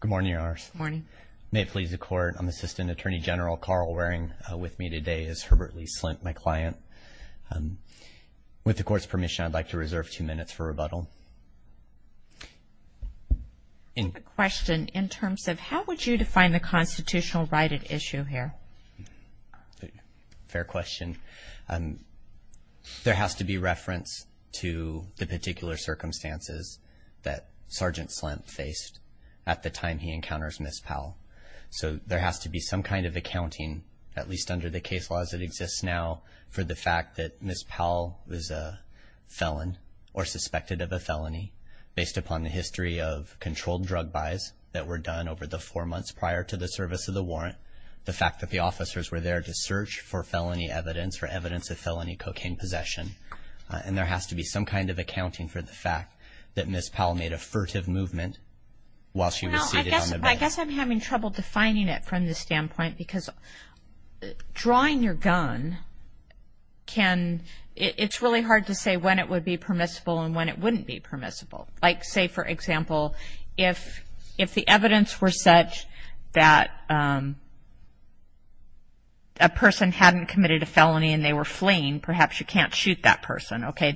Good morning, Your Honors. Good morning. May it please the Court, I'm Assistant Attorney General Carl Waring. With me today is Herbert Lee Slemp, my client. With the Court's permission, I'd like to reserve two minutes for rebuttal. I have a question in terms of how would you define the constitutional right at issue here? Fair question. I think there has to be reference to the particular circumstances that Sergeant Slemp faced at the time he encounters Ms. Powell. So there has to be some kind of accounting, at least under the case laws that exist now, for the fact that Ms. Powell was a felon or suspected of a felony based upon the history of controlled drug buys that were done over the four months prior to the service of the warrant, the fact that the officers were there to search for felony evidence or evidence of felony cocaine possession. And there has to be some kind of accounting for the fact that Ms. Powell made a furtive movement while she was seated on the bench. I guess I'm having trouble defining it from the standpoint because drawing your gun can – it's really hard to say when it would be permissible and when it wouldn't be permissible. Like say, for example, if the evidence were such that a person hadn't committed a felony and they were fleeing, perhaps you can't shoot that person. Okay,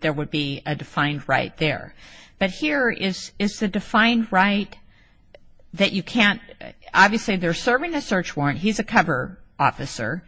there would be a defined right there. But here is the defined right that you can't – obviously they're serving a search warrant. He's a cover officer.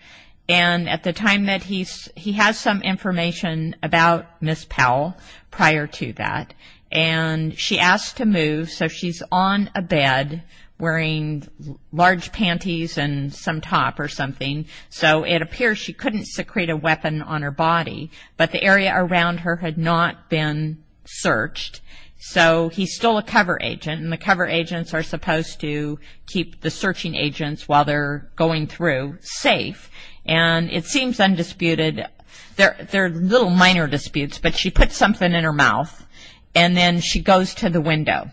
And at the time that he's – he has some information about Ms. Powell prior to that. And she asked to move, so she's on a bed wearing large panties and some top or something. So it appears she couldn't secrete a weapon on her body. But the area around her had not been searched. So he's still a cover agent, and the cover agents are supposed to keep the searching agents while they're going through safe. And it seems undisputed. There are little minor disputes, but she put something in her mouth. And then she goes to the window.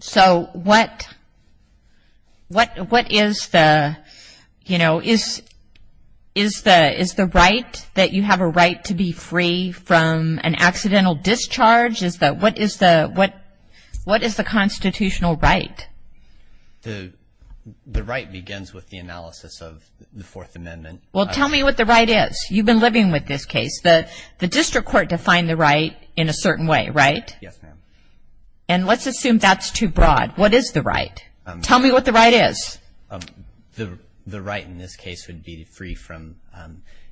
So what is the – you know, is the right that you have a right to be free from an accidental discharge? What is the constitutional right? The right begins with the analysis of the Fourth Amendment. Well, tell me what the right is. You've been living with this case. The district court defined the right in a certain way, right? Yes, ma'am. And let's assume that's too broad. What is the right? Tell me what the right is. The right in this case would be free from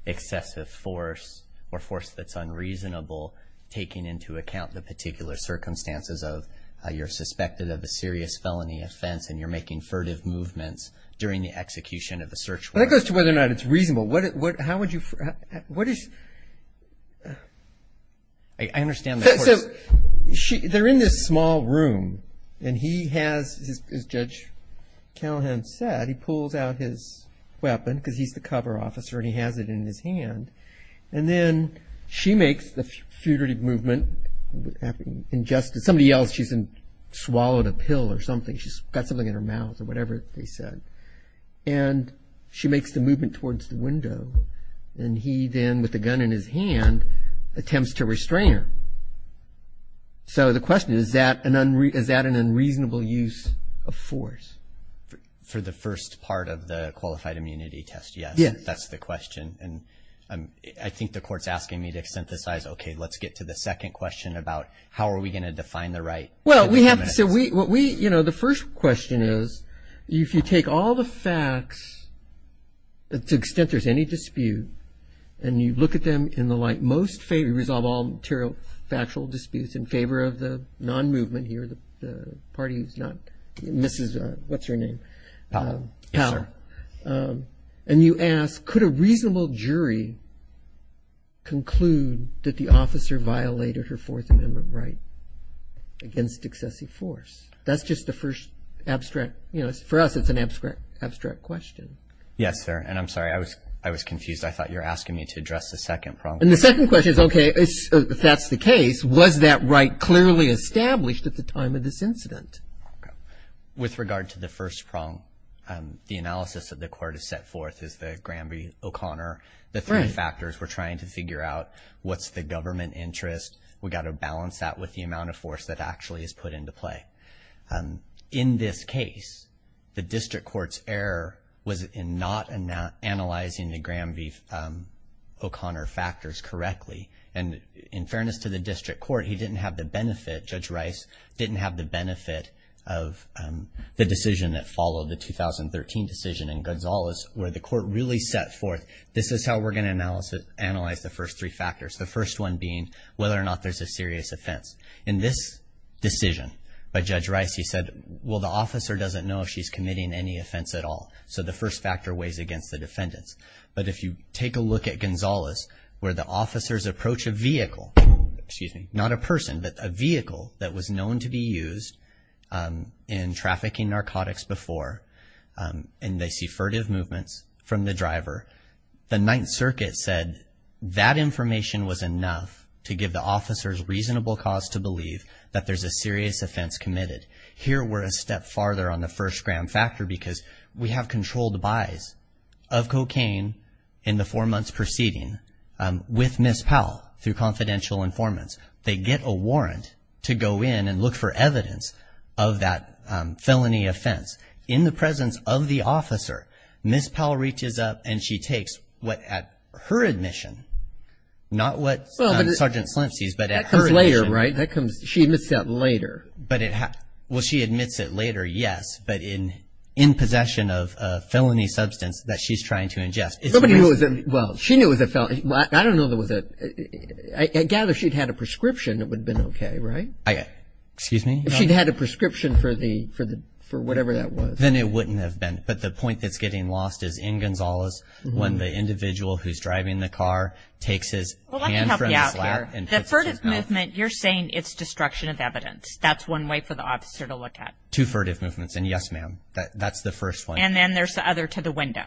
excessive force or force that's unreasonable, taking into account the particular circumstances of you're suspected of a serious felony offense and you're making furtive movements during the execution of the search warrant. Well, that goes to whether or not it's reasonable. How would you – what is – I understand the court is – So they're in this small room, and he has, as Judge Callahan said, he pulls out his weapon because he's the cover officer and he has it in his hand. And then she makes the furtive movement. Somebody yells she's swallowed a pill or something. She's got something in her mouth or whatever they said. And she makes the movement towards the window, and he then with the gun in his hand attempts to restrain her. So the question is, is that an unreasonable use of force? For the first part of the qualified immunity test, yes. That's the question. And I think the court's asking me to synthesize, okay, let's get to the second question about how are we going to define the right. Well, we have to say what we – you know, the first question is, if you take all the facts to the extent there's any dispute, and you look at them in the light most – resolve all material factual disputes in favor of the non-movement here, the party who's not – Mrs. – what's her name? Powell. Yes, sir. And you ask, could a reasonable jury conclude that the officer violated her Fourth Amendment right against excessive force? That's just the first abstract – you know, for us it's an abstract question. Yes, sir. And I'm sorry, I was confused. I thought you were asking me to address the second problem. And the second question is, okay, if that's the case, was that right clearly established at the time of this incident? With regard to the first problem, the analysis that the court has set forth is the Graham v. O'Connor. The three factors we're trying to figure out, what's the government interest? We've got to balance that with the amount of force that actually is put into play. In this case, the district court's error was in not analyzing the Graham v. O'Connor factors correctly. And in fairness to the district court, he didn't have the benefit – the decision that followed, the 2013 decision in Gonzales, where the court really set forth, this is how we're going to analyze the first three factors, the first one being whether or not there's a serious offense. In this decision by Judge Rice, he said, well, the officer doesn't know if she's committing any offense at all, so the first factor weighs against the defendants. But if you take a look at Gonzales, where the officers approach a vehicle – excuse me, not a person, but a vehicle that was known to be used in trafficking narcotics before, and they see furtive movements from the driver, the Ninth Circuit said that information was enough to give the officers reasonable cause to believe that there's a serious offense committed. Here, we're a step farther on the first Graham factor because we have controlled buys of cocaine in the four months preceding with Ms. Powell through confidential informants. They get a warrant to go in and look for evidence of that felony offense. In the presence of the officer, Ms. Powell reaches up and she takes what at her admission, not what Sergeant Slim sees, but at her admission. That comes later, right? She admits that later. Well, she admits it later, yes, but in possession of a felony substance that she's trying to ingest. Well, she knew it was a felony. I don't know that it was a – I gather if she'd had a prescription, it would have been okay, right? Excuse me? If she'd had a prescription for whatever that was. Then it wouldn't have been, but the point that's getting lost is in Gonzales when the individual who's driving the car takes his hand from his lap and puts his mouth – Well, let me help you out here. The furtive movement, you're saying it's destruction of evidence. That's one way for the officer to look at it. Two furtive movements, and yes, ma'am, that's the first one. And then there's the other to the window.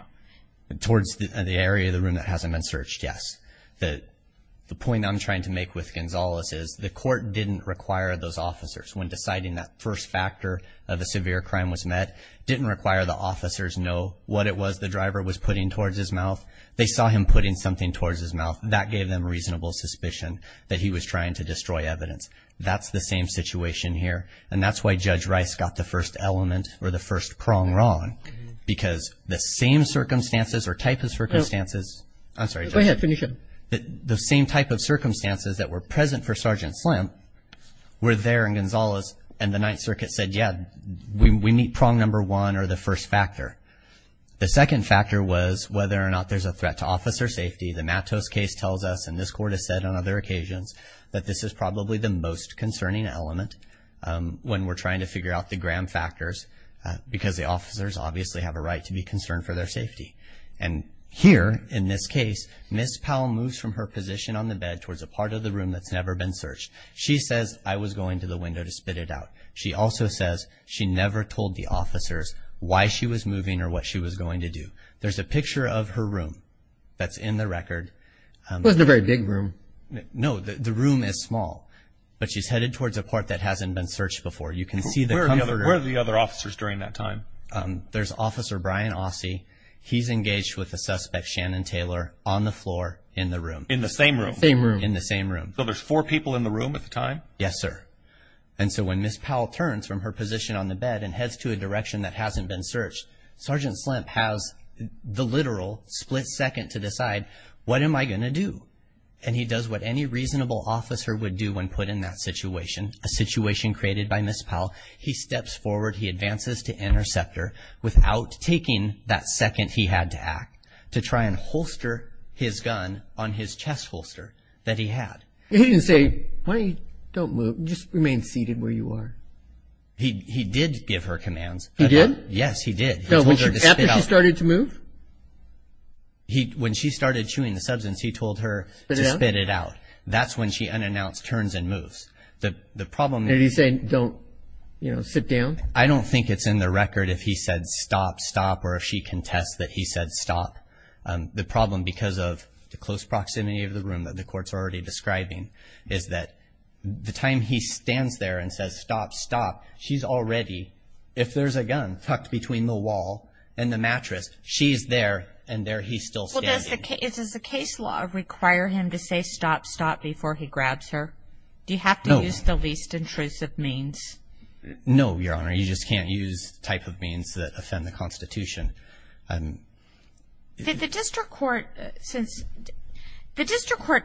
Towards the area of the room that hasn't been searched, yes. The point I'm trying to make with Gonzales is the court didn't require those officers when deciding that first factor of a severe crime was met, didn't require the officers know what it was the driver was putting towards his mouth. They saw him putting something towards his mouth. That gave them reasonable suspicion that he was trying to destroy evidence. That's the same situation here, and that's why Judge Rice got the first element or the first prong wrong because the same circumstances or type of circumstances – No. I'm sorry, Judge. Go ahead. Finish up. The same type of circumstances that were present for Sergeant Slim were there in Gonzales, and the Ninth Circuit said, yeah, we meet prong number one or the first factor. The second factor was whether or not there's a threat to officer safety. The Matos case tells us, and this court has said on other occasions, that this is probably the most concerning element when we're trying to figure out the Graham factors because the officers obviously have a right to be concerned for their safety. And here in this case, Ms. Powell moves from her position on the bed towards a part of the room that's never been searched. She says, I was going to the window to spit it out. She also says she never told the officers why she was moving or what she was going to do. There's a picture of her room that's in the record. It wasn't a very big room. No. The room is small, but she's headed towards a part that hasn't been searched before. You can see the comforter. Where are the other officers during that time? There's Officer Brian Ausse. He's engaged with a suspect, Shannon Taylor, on the floor in the room. In the same room. Same room. In the same room. So there's four people in the room at the time? Yes, sir. And so when Ms. Powell turns from her position on the bed and heads to a direction that hasn't been searched, Sergeant Slim has the literal split second to decide, what am I going to do? And he does what any reasonable officer would do when put in that situation, a situation created by Ms. Powell. He steps forward. He advances to intercept her without taking that second he had to act to try and holster his gun on his chest holster that he had. He didn't say, Why don't you don't move? Just remain seated where you are. He did give her commands. He did? Yes, he did. After she started to move? When she started chewing the substance, he told her to spit it out. That's when she unannounced turns and moves. Did he say, Don't sit down? I don't think it's in the record if he said, Stop, stop, or if she contests that he said, Stop. The problem, because of the close proximity of the room that the courts are already describing, is that the time he stands there and says, Stop, stop, she's already, if there's a gun tucked between the wall and the mattress, she's there, and there he's still standing. Does the case law require him to say, Stop, stop, before he grabs her? Do you have to use the least intrusive means? No, Your Honor. You just can't use the type of means that offend the Constitution. Did the district court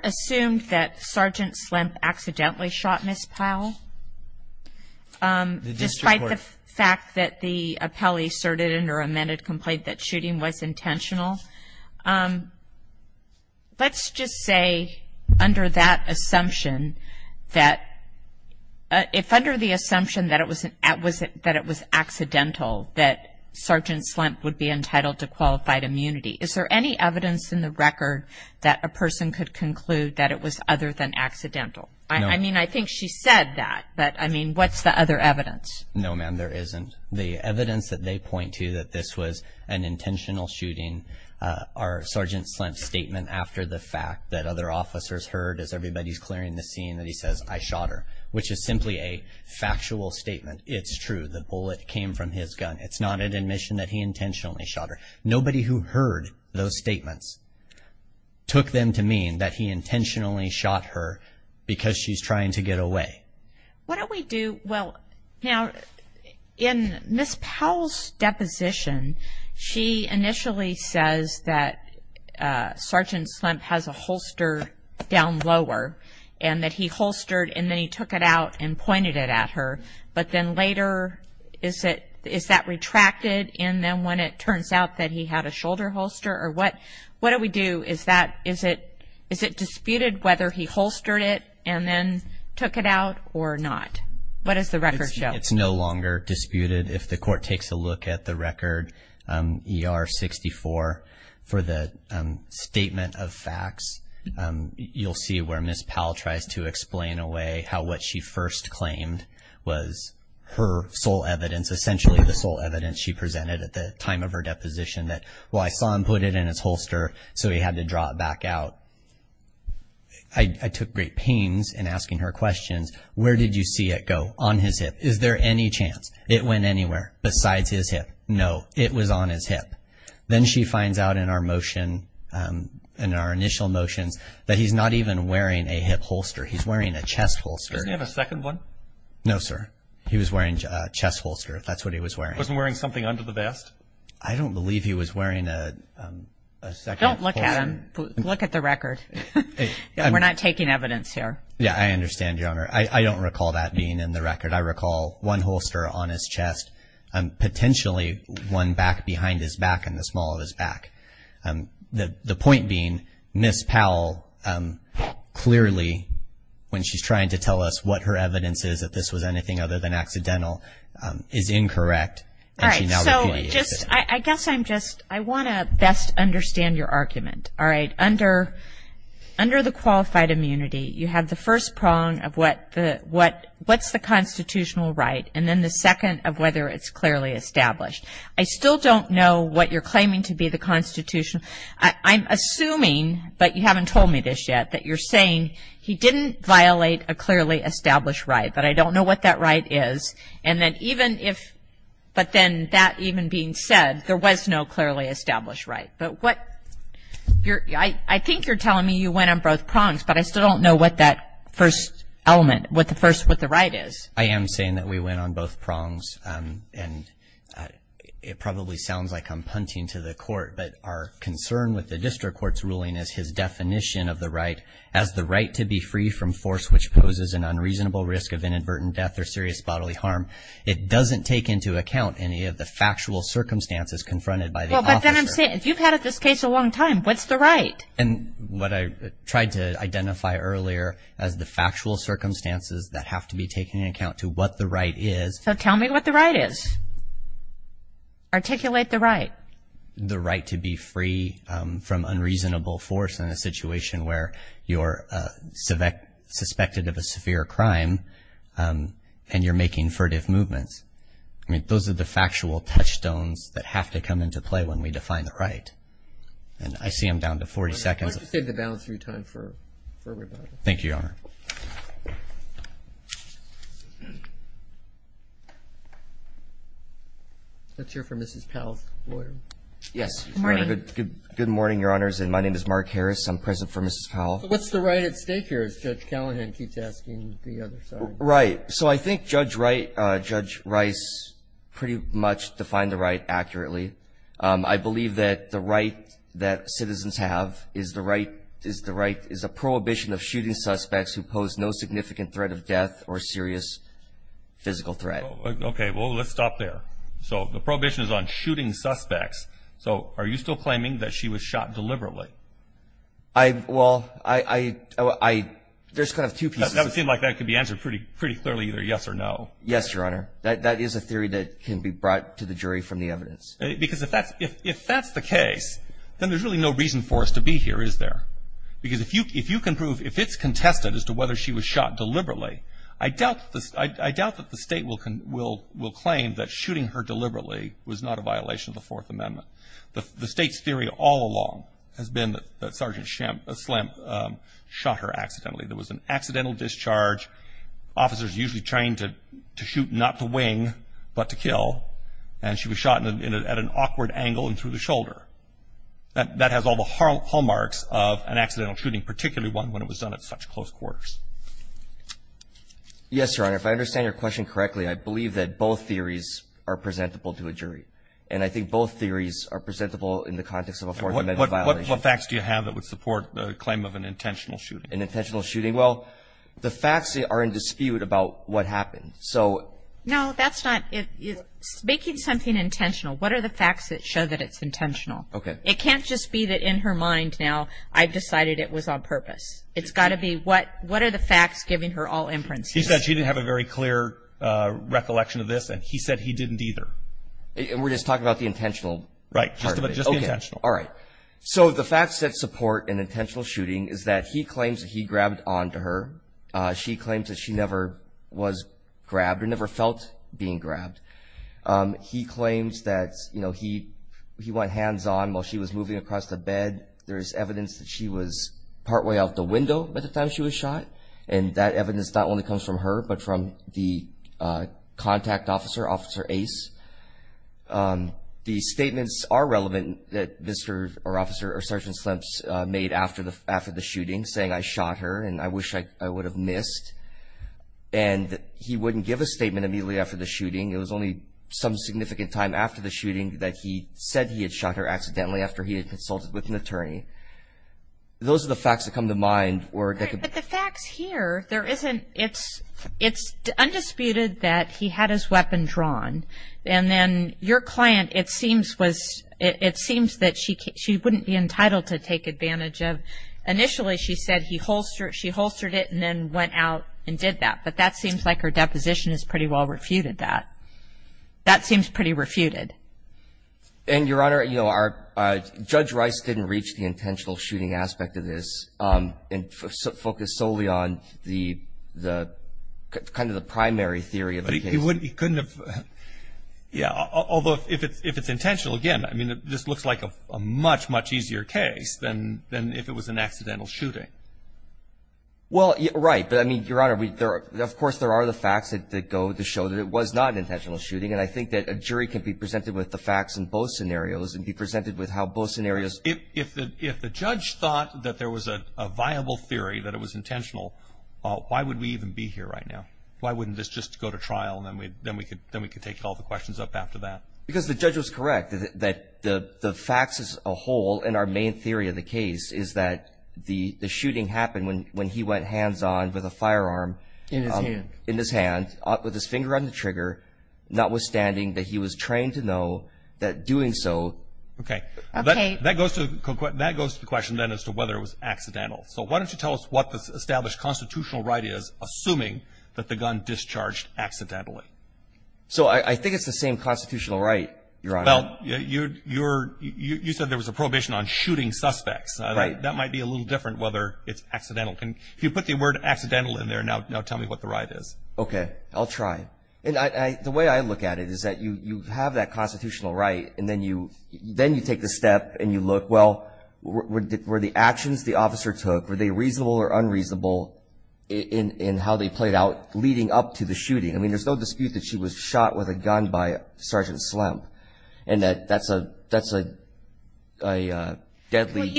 assume that Sergeant Slim accidentally shot Ms. Powell? Despite the fact that the appellee asserted in her amended complaint that shooting was intentional, let's just say under that assumption that if under the assumption that it was accidental, that Sergeant Slim would be entitled to qualified immunity, is there any evidence in the record that a person could conclude that it was other than accidental? No. I mean, I think she said that, but, I mean, what's the other evidence? No, ma'am, there isn't. The evidence that they point to that this was an intentional shooting are Sergeant Slim's statement after the fact that other officers heard as everybody's clearing the scene that he says, I shot her, which is simply a factual statement. It's true, the bullet came from his gun. It's not an admission that he intentionally shot her. Nobody who heard those statements took them to mean that he intentionally shot her because she's trying to get away. What do we do? Well, now, in Ms. Powell's deposition, she initially says that Sergeant Slim has a holster down lower and that he holstered and then he took it out and pointed it at her, but then later is that retracted and then when it turns out that he had a shoulder holster? Or what do we do? Is it disputed whether he holstered it and then took it out or not? What does the record show? It's no longer disputed. If the court takes a look at the record ER-64 for the statement of facts, you'll see where Ms. Powell tries to explain away how what she first claimed was her sole evidence, essentially the sole evidence she presented at the time of her deposition that, well, I saw him put it in his holster so he had to draw it back out. I took great pains in asking her questions. Where did you see it go? On his hip. Is there any chance it went anywhere besides his hip? No, it was on his hip. Then she finds out in our motion, in our initial motions, that he's not even wearing a hip holster. He's wearing a chest holster. Doesn't he have a second one? No, sir. He was wearing a chest holster if that's what he was wearing. Wasn't wearing something under the vest? I don't believe he was wearing a second holster. Don't look at him. Look at the record. We're not taking evidence here. Yeah, I understand, Your Honor. I don't recall that being in the record. I recall one holster on his chest, potentially one back behind his back and the small of his back. The point being, Ms. Powell clearly, when she's trying to tell us what her evidence is that this was anything other than accidental, is incorrect. All right, so just, I guess I'm just, I want to best understand your argument. All right? Under the qualified immunity, you have the first prong of what's the constitutional right and then the second of whether it's clearly established. I still don't know what you're claiming to be the constitutional. I'm assuming, but you haven't told me this yet, that you're saying he didn't violate a clearly established right, but I don't know what that right is. And then even if, but then that even being said, there was no clearly established right. But what, I think you're telling me you went on both prongs, but I still don't know what that first element, what the right is. I am saying that we went on both prongs, and it probably sounds like I'm punting to the court, but our concern with the district court's ruling is his definition of the right, as the right to be free from force which poses an unreasonable risk of inadvertent death or serious bodily harm. It doesn't take into account any of the factual circumstances confronted by the officer. Well, but then I'm saying, if you've had this case a long time, what's the right? And what I tried to identify earlier as the factual circumstances that have to be taken into account to what the right is. So tell me what the right is. Articulate the right. The right to be free from unreasonable force in a situation where you're suspected of a severe crime and you're making furtive movements. I mean, those are the factual touchstones that have to come into play when we define the right. And I see I'm down to 40 seconds. Why don't you save the balance of your time for rebuttal. Thank you, Your Honor. Let's hear from Mrs. Powell's lawyer. Yes. Good morning. Good morning, Your Honors, and my name is Mark Harris. I'm present for Mrs. Powell. What's the right at stake here, as Judge Callahan keeps asking the other side? Right. So I think Judge Rice pretty much defined the right accurately. I believe that the right that citizens have is the right, is the right, prohibition of shooting suspects who pose no significant threat of death or serious physical threat. Okay. Well, let's stop there. So the prohibition is on shooting suspects. So are you still claiming that she was shot deliberately? Well, there's kind of two pieces. That would seem like that could be answered pretty clearly either yes or no. Yes, Your Honor. That is a theory that can be brought to the jury from the evidence. Because if that's the case, then there's really no reason for us to be here, is there? Because if you can prove, if it's contested as to whether she was shot deliberately, I doubt that the state will claim that shooting her deliberately was not a violation of the Fourth Amendment. The state's theory all along has been that Sergeant Slimp shot her accidentally. There was an accidental discharge. Officers usually trained to shoot not to wing but to kill. And she was shot at an awkward angle and through the shoulder. That has all the hallmarks of an accidental shooting, particularly one when it was done at such close quarters. Yes, Your Honor. If I understand your question correctly, I believe that both theories are presentable to a jury. And I think both theories are presentable in the context of a Fourth Amendment violation. What facts do you have that would support the claim of an intentional shooting? An intentional shooting. Well, the facts are in dispute about what happened. So no, that's not it. Making something intentional, what are the facts that show that it's intentional? It can't just be that in her mind now, I've decided it was on purpose. It's got to be what are the facts giving her all imprints? He said she didn't have a very clear recollection of this, and he said he didn't either. And we're just talking about the intentional part of it? Right, just the intentional. Okay, all right. So the facts that support an intentional shooting is that he claims that he grabbed onto her. She claims that she never was grabbed or never felt being grabbed. He claims that he went hands-on while she was moving across the bed. There's evidence that she was partway out the window by the time she was shot, and that evidence not only comes from her but from the contact officer, Officer Ace. The statements are relevant that Mr. or Officer or Sergeant Slimps made after the shooting, saying, I shot her and I wish I would have missed. And he wouldn't give a statement immediately after the shooting. It was only some significant time after the shooting that he said he had shot her accidentally after he had consulted with an attorney. Those are the facts that come to mind. But the facts here, it's undisputed that he had his weapon drawn. And then your client, it seems that she wouldn't be entitled to take advantage of, initially she said she holstered it and then went out and did that. But that seems like her deposition has pretty well refuted that. That seems pretty refuted. And, Your Honor, you know, Judge Rice didn't reach the intentional shooting aspect of this and focused solely on the kind of the primary theory of the case. But he couldn't have, yeah, although if it's intentional, again, I mean, this looks like a much, much easier case than if it was an accidental shooting. Well, right. But, I mean, Your Honor, of course there are the facts that go to show that it was not an intentional shooting. And I think that a jury can be presented with the facts in both scenarios and be presented with how both scenarios. If the judge thought that there was a viable theory that it was intentional, why would we even be here right now? Why wouldn't this just go to trial and then we could take all the questions up after that? Because the judge was correct that the facts as a whole in our main theory of the case is that the shooting happened when he went hands-on with a firearm. In his hand. In his hand, with his finger on the trigger, notwithstanding that he was trained to know that doing so. Okay. Okay. That goes to the question then as to whether it was accidental. So why don't you tell us what the established constitutional right is, assuming that the gun discharged accidentally. So I think it's the same constitutional right, Your Honor. Well, you said there was a prohibition on shooting suspects. Right. That might be a little different whether it's accidental. If you put the word accidental in there, now tell me what the right is. Okay. I'll try. And the way I look at it is that you have that constitutional right, and then you take the step and you look, well, were the actions the officer took, were they reasonable or unreasonable in how they played out leading up to the shooting? I mean, there's no dispute that she was shot with a gun by Sergeant Slump. And that's a deadly. Well, you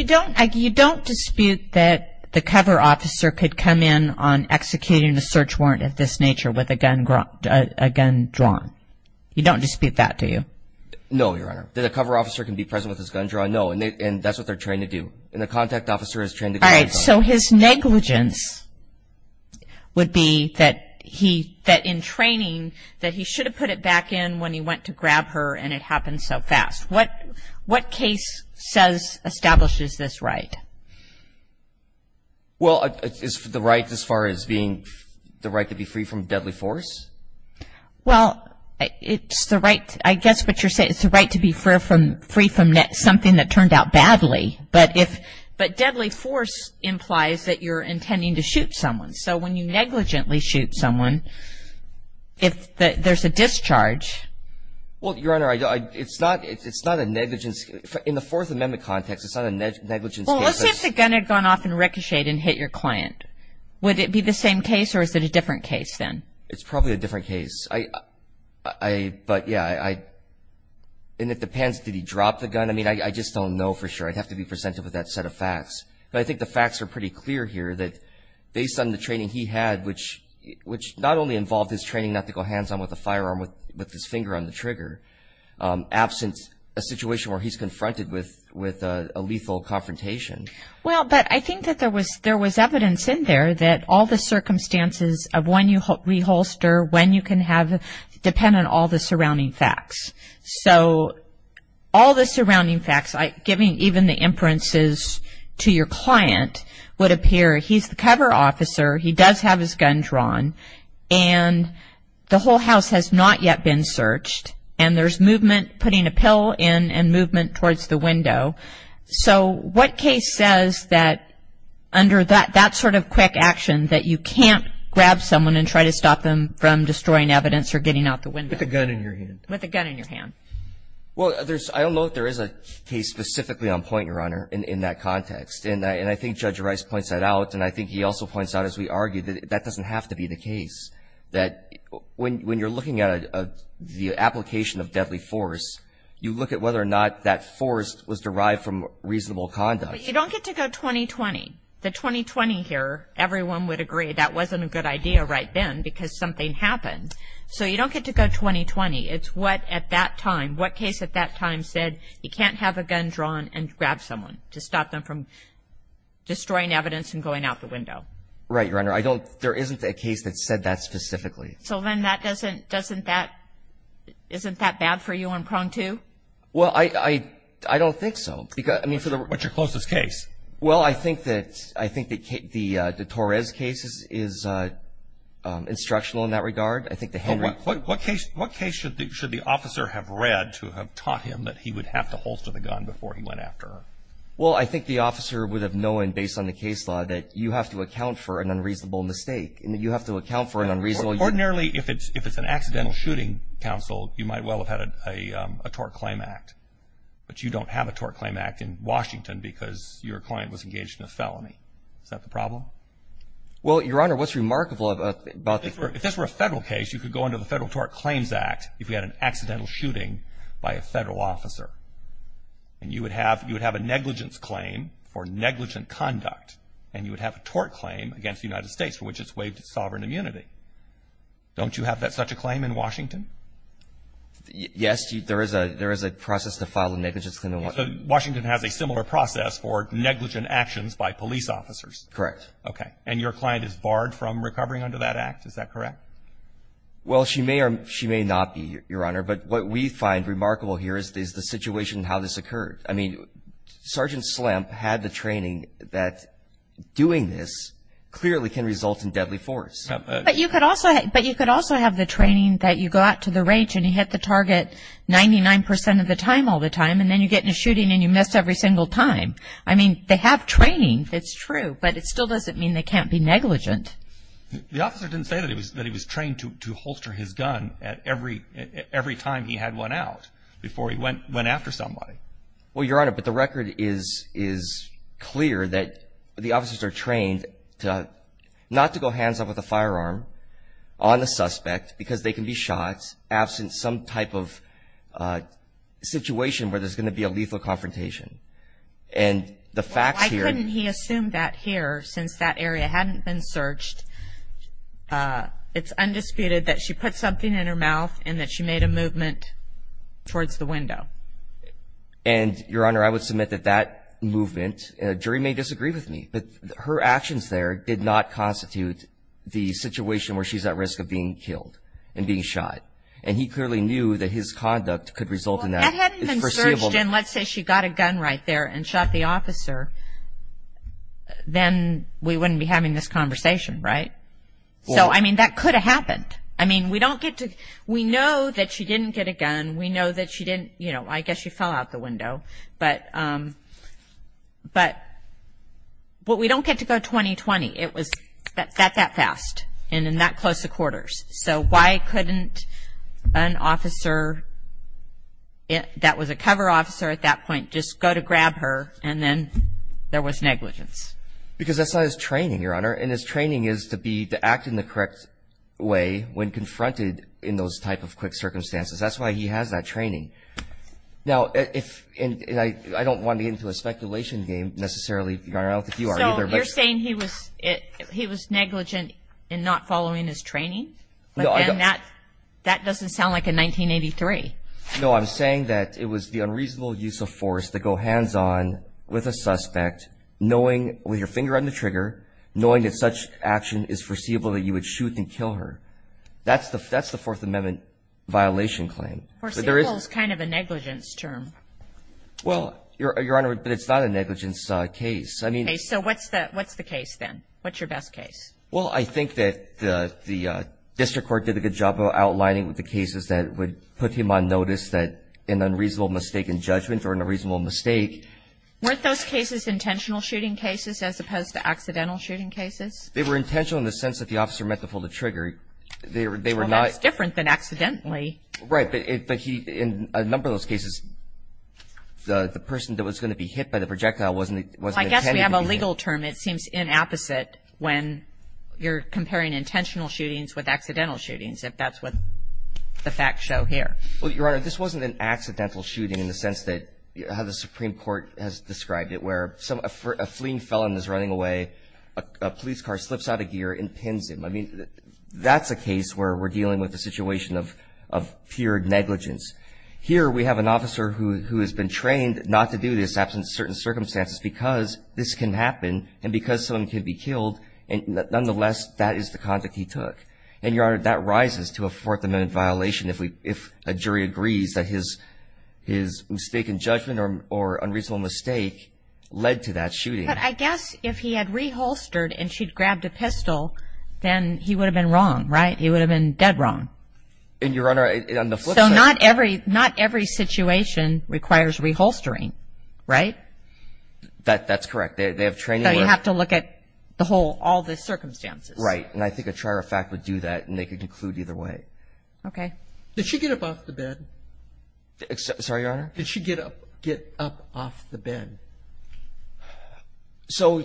don't dispute that the cover officer could come in on executing a search warrant of this nature with a gun drawn. You don't dispute that, do you? No, Your Honor. That a cover officer can be present with his gun drawn? No. And that's what they're trained to do. And the contact officer is trained to get his gun drawn. And so his negligence would be that in training, that he should have put it back in when he went to grab her and it happened so fast. What case establishes this right? Well, is the right as far as being the right to be free from deadly force? Well, it's the right, I guess what you're saying, it's the right to be free from something that turned out badly. But deadly force implies that you're intending to shoot someone. So when you negligently shoot someone, if there's a discharge. Well, Your Honor, it's not a negligence. In the Fourth Amendment context, it's not a negligence case. Well, let's say the gun had gone off and ricocheted and hit your client. Would it be the same case or is it a different case then? It's probably a different case. But, yeah, and it depends. Did he drop the gun? I mean, I just don't know for sure. I'd have to be presented with that set of facts. But I think the facts are pretty clear here that based on the training he had, which not only involved his training not to go hands-on with a firearm with his finger on the trigger, absent a situation where he's confronted with a lethal confrontation. Well, but I think that there was evidence in there that all the circumstances of when you reholster, when you can have it, depend on all the surrounding facts. So all the surrounding facts, giving even the inferences to your client, would appear he's the cover officer, he does have his gun drawn, and the whole house has not yet been searched, and there's movement putting a pill in and movement towards the window. So what case says that under that sort of quick action that you can't grab someone and try to stop them from destroying evidence or getting out the window? With a gun in your hand. Well, I don't know if there is a case specifically on point, Your Honor, in that context. And I think Judge Rice points that out, and I think he also points out, as we argued, that that doesn't have to be the case, that when you're looking at the application of deadly force, you look at whether or not that force was derived from reasonable conduct. But you don't get to go 20-20. The 20-20 here, everyone would agree that wasn't a good idea right then because something happened. So you don't get to go 20-20. It's what at that time, what case at that time said you can't have a gun drawn and grab someone to stop them from destroying evidence and going out the window. Right, Your Honor. I don't – there isn't a case that said that specifically. So then that doesn't – isn't that bad for you on prong two? Well, I don't think so. What's your closest case? Well, I think that the Torres case is instructional in that regard. What case should the officer have read to have taught him that he would have to holster the gun before he went after her? Well, I think the officer would have known, based on the case law, that you have to account for an unreasonable mistake, and that you have to account for an unreasonable – Ordinarily, if it's an accidental shooting counsel, you might well have had a tort claim act. But you don't have a tort claim act in Washington because your client was engaged in a felony. Is that the problem? Well, Your Honor, what's remarkable about the – if this were a federal case, you could go under the Federal Tort Claims Act if you had an accidental shooting by a federal officer, and you would have a negligence claim for negligent conduct, and you would have a tort claim against the United States for which it's waived its sovereign immunity. Don't you have such a claim in Washington? Yes. There is a process to file a negligence claim in Washington. Washington has a similar process for negligent actions by police officers. Correct. Okay. And your client is barred from recovering under that act. Is that correct? Well, she may or she may not be, Your Honor. But what we find remarkable here is the situation how this occurred. I mean, Sergeant Slamp had the training that doing this clearly can result in deadly force. But you could also have the training that you go out to the range and you hit the target 99 percent of the time all the time, and then you get in a shooting and you miss every single time. I mean, they have training. It's true. But it still doesn't mean they can't be negligent. The officer didn't say that he was trained to holster his gun every time he had one out before he went after somebody. Well, Your Honor, but the record is clear that the officers are trained not to go hands-on with a firearm on the suspect because they can be shot absent some type of situation where there's going to be a lethal confrontation. And the fact here — since that area hadn't been searched, it's undisputed that she put something in her mouth and that she made a movement towards the window. And, Your Honor, I would submit that that movement — a jury may disagree with me, but her actions there did not constitute the situation where she's at risk of being killed and being shot. And he clearly knew that his conduct could result in that. If that hadn't been searched and, let's say, she got a gun right there and shot the officer, then we wouldn't be having this conversation, right? So, I mean, that could have happened. I mean, we don't get to — we know that she didn't get a gun. We know that she didn't — you know, I guess she fell out the window. But we don't get to go 20-20. It was that fast and in that close of quarters. So why couldn't an officer that was a cover officer at that point just go to grab her and then there was negligence? Because that's not his training, Your Honor. And his training is to be — to act in the correct way when confronted in those type of quick circumstances. That's why he has that training. Now, if — and I don't want to get into a speculation game necessarily, Your Honor. I don't know if you are either. You're saying he was negligent in not following his training? But then that doesn't sound like a 1983. No, I'm saying that it was the unreasonable use of force to go hands-on with a suspect, knowing with your finger on the trigger, knowing that such action is foreseeable that you would shoot and kill her. That's the Fourth Amendment violation claim. Foreseeable is kind of a negligence term. Well, Your Honor, but it's not a negligence case. Okay, so what's the case then? What's your best case? Well, I think that the district court did a good job of outlining the cases that would put him on notice that an unreasonable mistake in judgment or an unreasonable mistake. Weren't those cases intentional shooting cases as opposed to accidental shooting cases? They were intentional in the sense that the officer meant to pull the trigger. They were not — Well, that's different than accidentally. Right, but he — in a number of those cases, the person that was going to be hit by the projectile wasn't intended to be hit. Well, I guess we have a legal term. It seems inopposite when you're comparing intentional shootings with accidental shootings, if that's what the facts show here. Well, Your Honor, this wasn't an accidental shooting in the sense that — how the Supreme Court has described it, where a fleeing felon is running away, a police car slips out of gear and pins him. I mean, that's a case where we're dealing with a situation of pure negligence. Here we have an officer who has been trained not to do this after certain circumstances because this can happen and because someone can be killed, and nonetheless that is the conduct he took. And, Your Honor, that rises to a Fourth Amendment violation if a jury agrees that his mistaken judgment or unreasonable mistake led to that shooting. But I guess if he had reholstered and she'd grabbed a pistol, then he would have been wrong, right? He would have been dead wrong. And, Your Honor, on the flip side — So not every situation requires reholstering, right? That's correct. They have training where — So you have to look at the whole — all the circumstances. Right. And I think a trier of fact would do that, and they could conclude either way. Okay. Did she get up off the bed? Sorry, Your Honor? Did she get up off the bed? So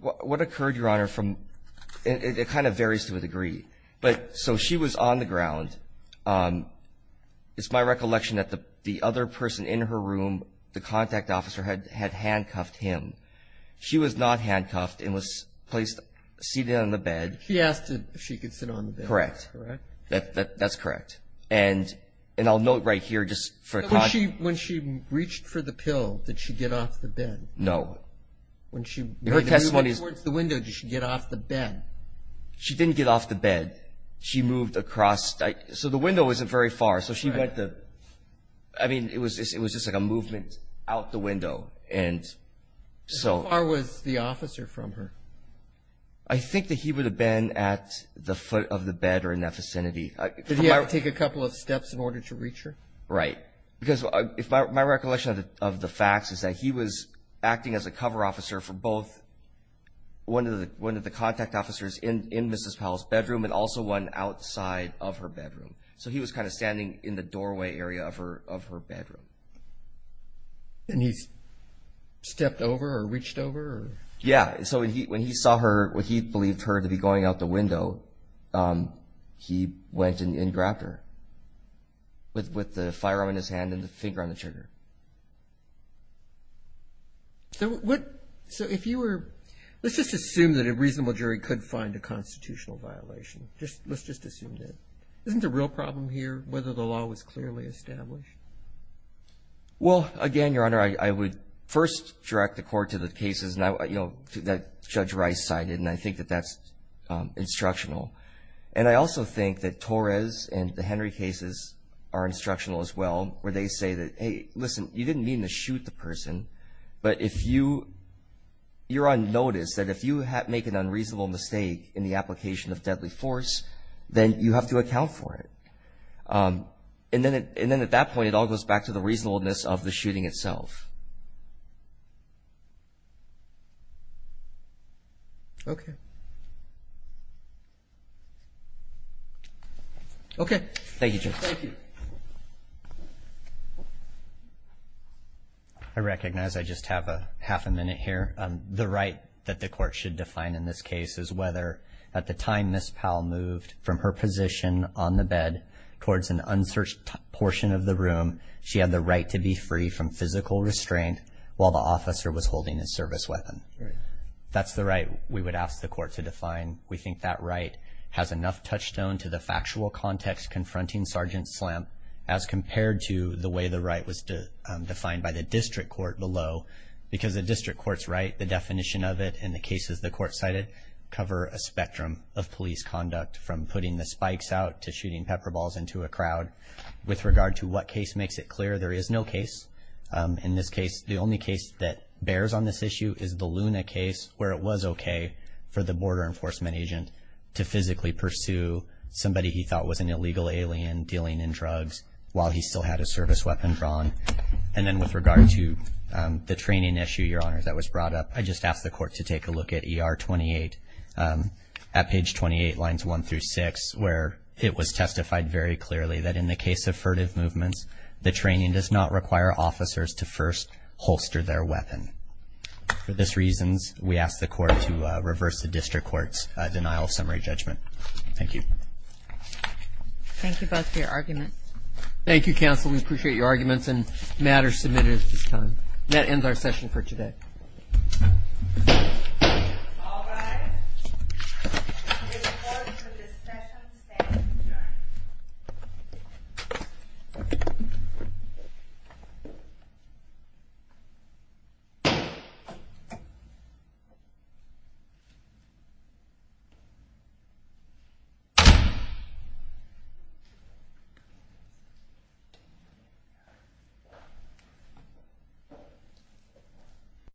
what occurred, Your Honor, from — it kind of varies to a degree. But so she was on the ground. It's my recollection that the other person in her room, the contact officer, had handcuffed him. She was not handcuffed and was placed — seated on the bed. She asked if she could sit on the bed. Correct. Correct? That's correct. And I'll note right here just for — When she reached for the pill, did she get off the bed? No. When she — Her testimony is — When you went towards the window, did she get off the bed? She didn't get off the bed. She moved across — so the window wasn't very far. So she went to — I mean, it was just like a movement out the window. And so — How far was the officer from her? I think that he would have been at the foot of the bed or in that vicinity. Did he have to take a couple of steps in order to reach her? Right. Because my recollection of the facts is that he was acting as a cover officer for both — one of the contact officers in Mrs. Powell's bedroom and also one outside of her bedroom. So he was kind of standing in the doorway area of her bedroom. And he stepped over or reached over? Yeah. So when he saw her, when he believed her to be going out the window, he went and grabbed her with the firearm in his hand and the finger on the trigger. So if you were — let's just assume that a reasonable jury could find a constitutional violation. Let's just assume that. Isn't the real problem here whether the law was clearly established? Well, again, Your Honor, I would first direct the court to the cases that Judge Rice cited, and I think that that's instructional. And I also think that Torres and the Henry cases are instructional as well, where they say that, hey, listen, you didn't mean to shoot the person, but you're on notice that if you make an unreasonable mistake in the application of deadly force, then you have to account for it. And then at that point, it all goes back to the reasonableness of the shooting itself. Okay. Okay. Thank you, Judge. Thank you. I recognize I just have half a minute here. The right that the court should define in this case is whether at the time Ms. Powell moved from her position on the bed towards an unsearched portion of the room, she had the right to be free from physical restraint while the officer was holding a service weapon. We think that right has enough touchstone to the factual context confronting Sergeant Slamp as compared to the way the right was defined by the district court below, because the district court's right, the definition of it, and the cases the court cited, cover a spectrum of police conduct from putting the spikes out to shooting pepper balls into a crowd. With regard to what case makes it clear, there is no case. In this case, the only case that bears on this issue is the Luna case, where it was okay for the border enforcement agent to physically pursue somebody he thought was an illegal alien dealing in drugs while he still had a service weapon drawn. And then with regard to the training issue, Your Honors, that was brought up, I just asked the court to take a look at ER 28 at page 28, lines 1 through 6, where it was testified very clearly that in the case of furtive movements, the training does not require officers to first holster their weapon. For these reasons, we ask the court to reverse the district court's denial of summary judgment. Thank you. Thank you both for your arguments. Thank you, counsel. We appreciate your arguments and matters submitted at this time. That ends our session for today. All rise. The court for this session stands adjourned.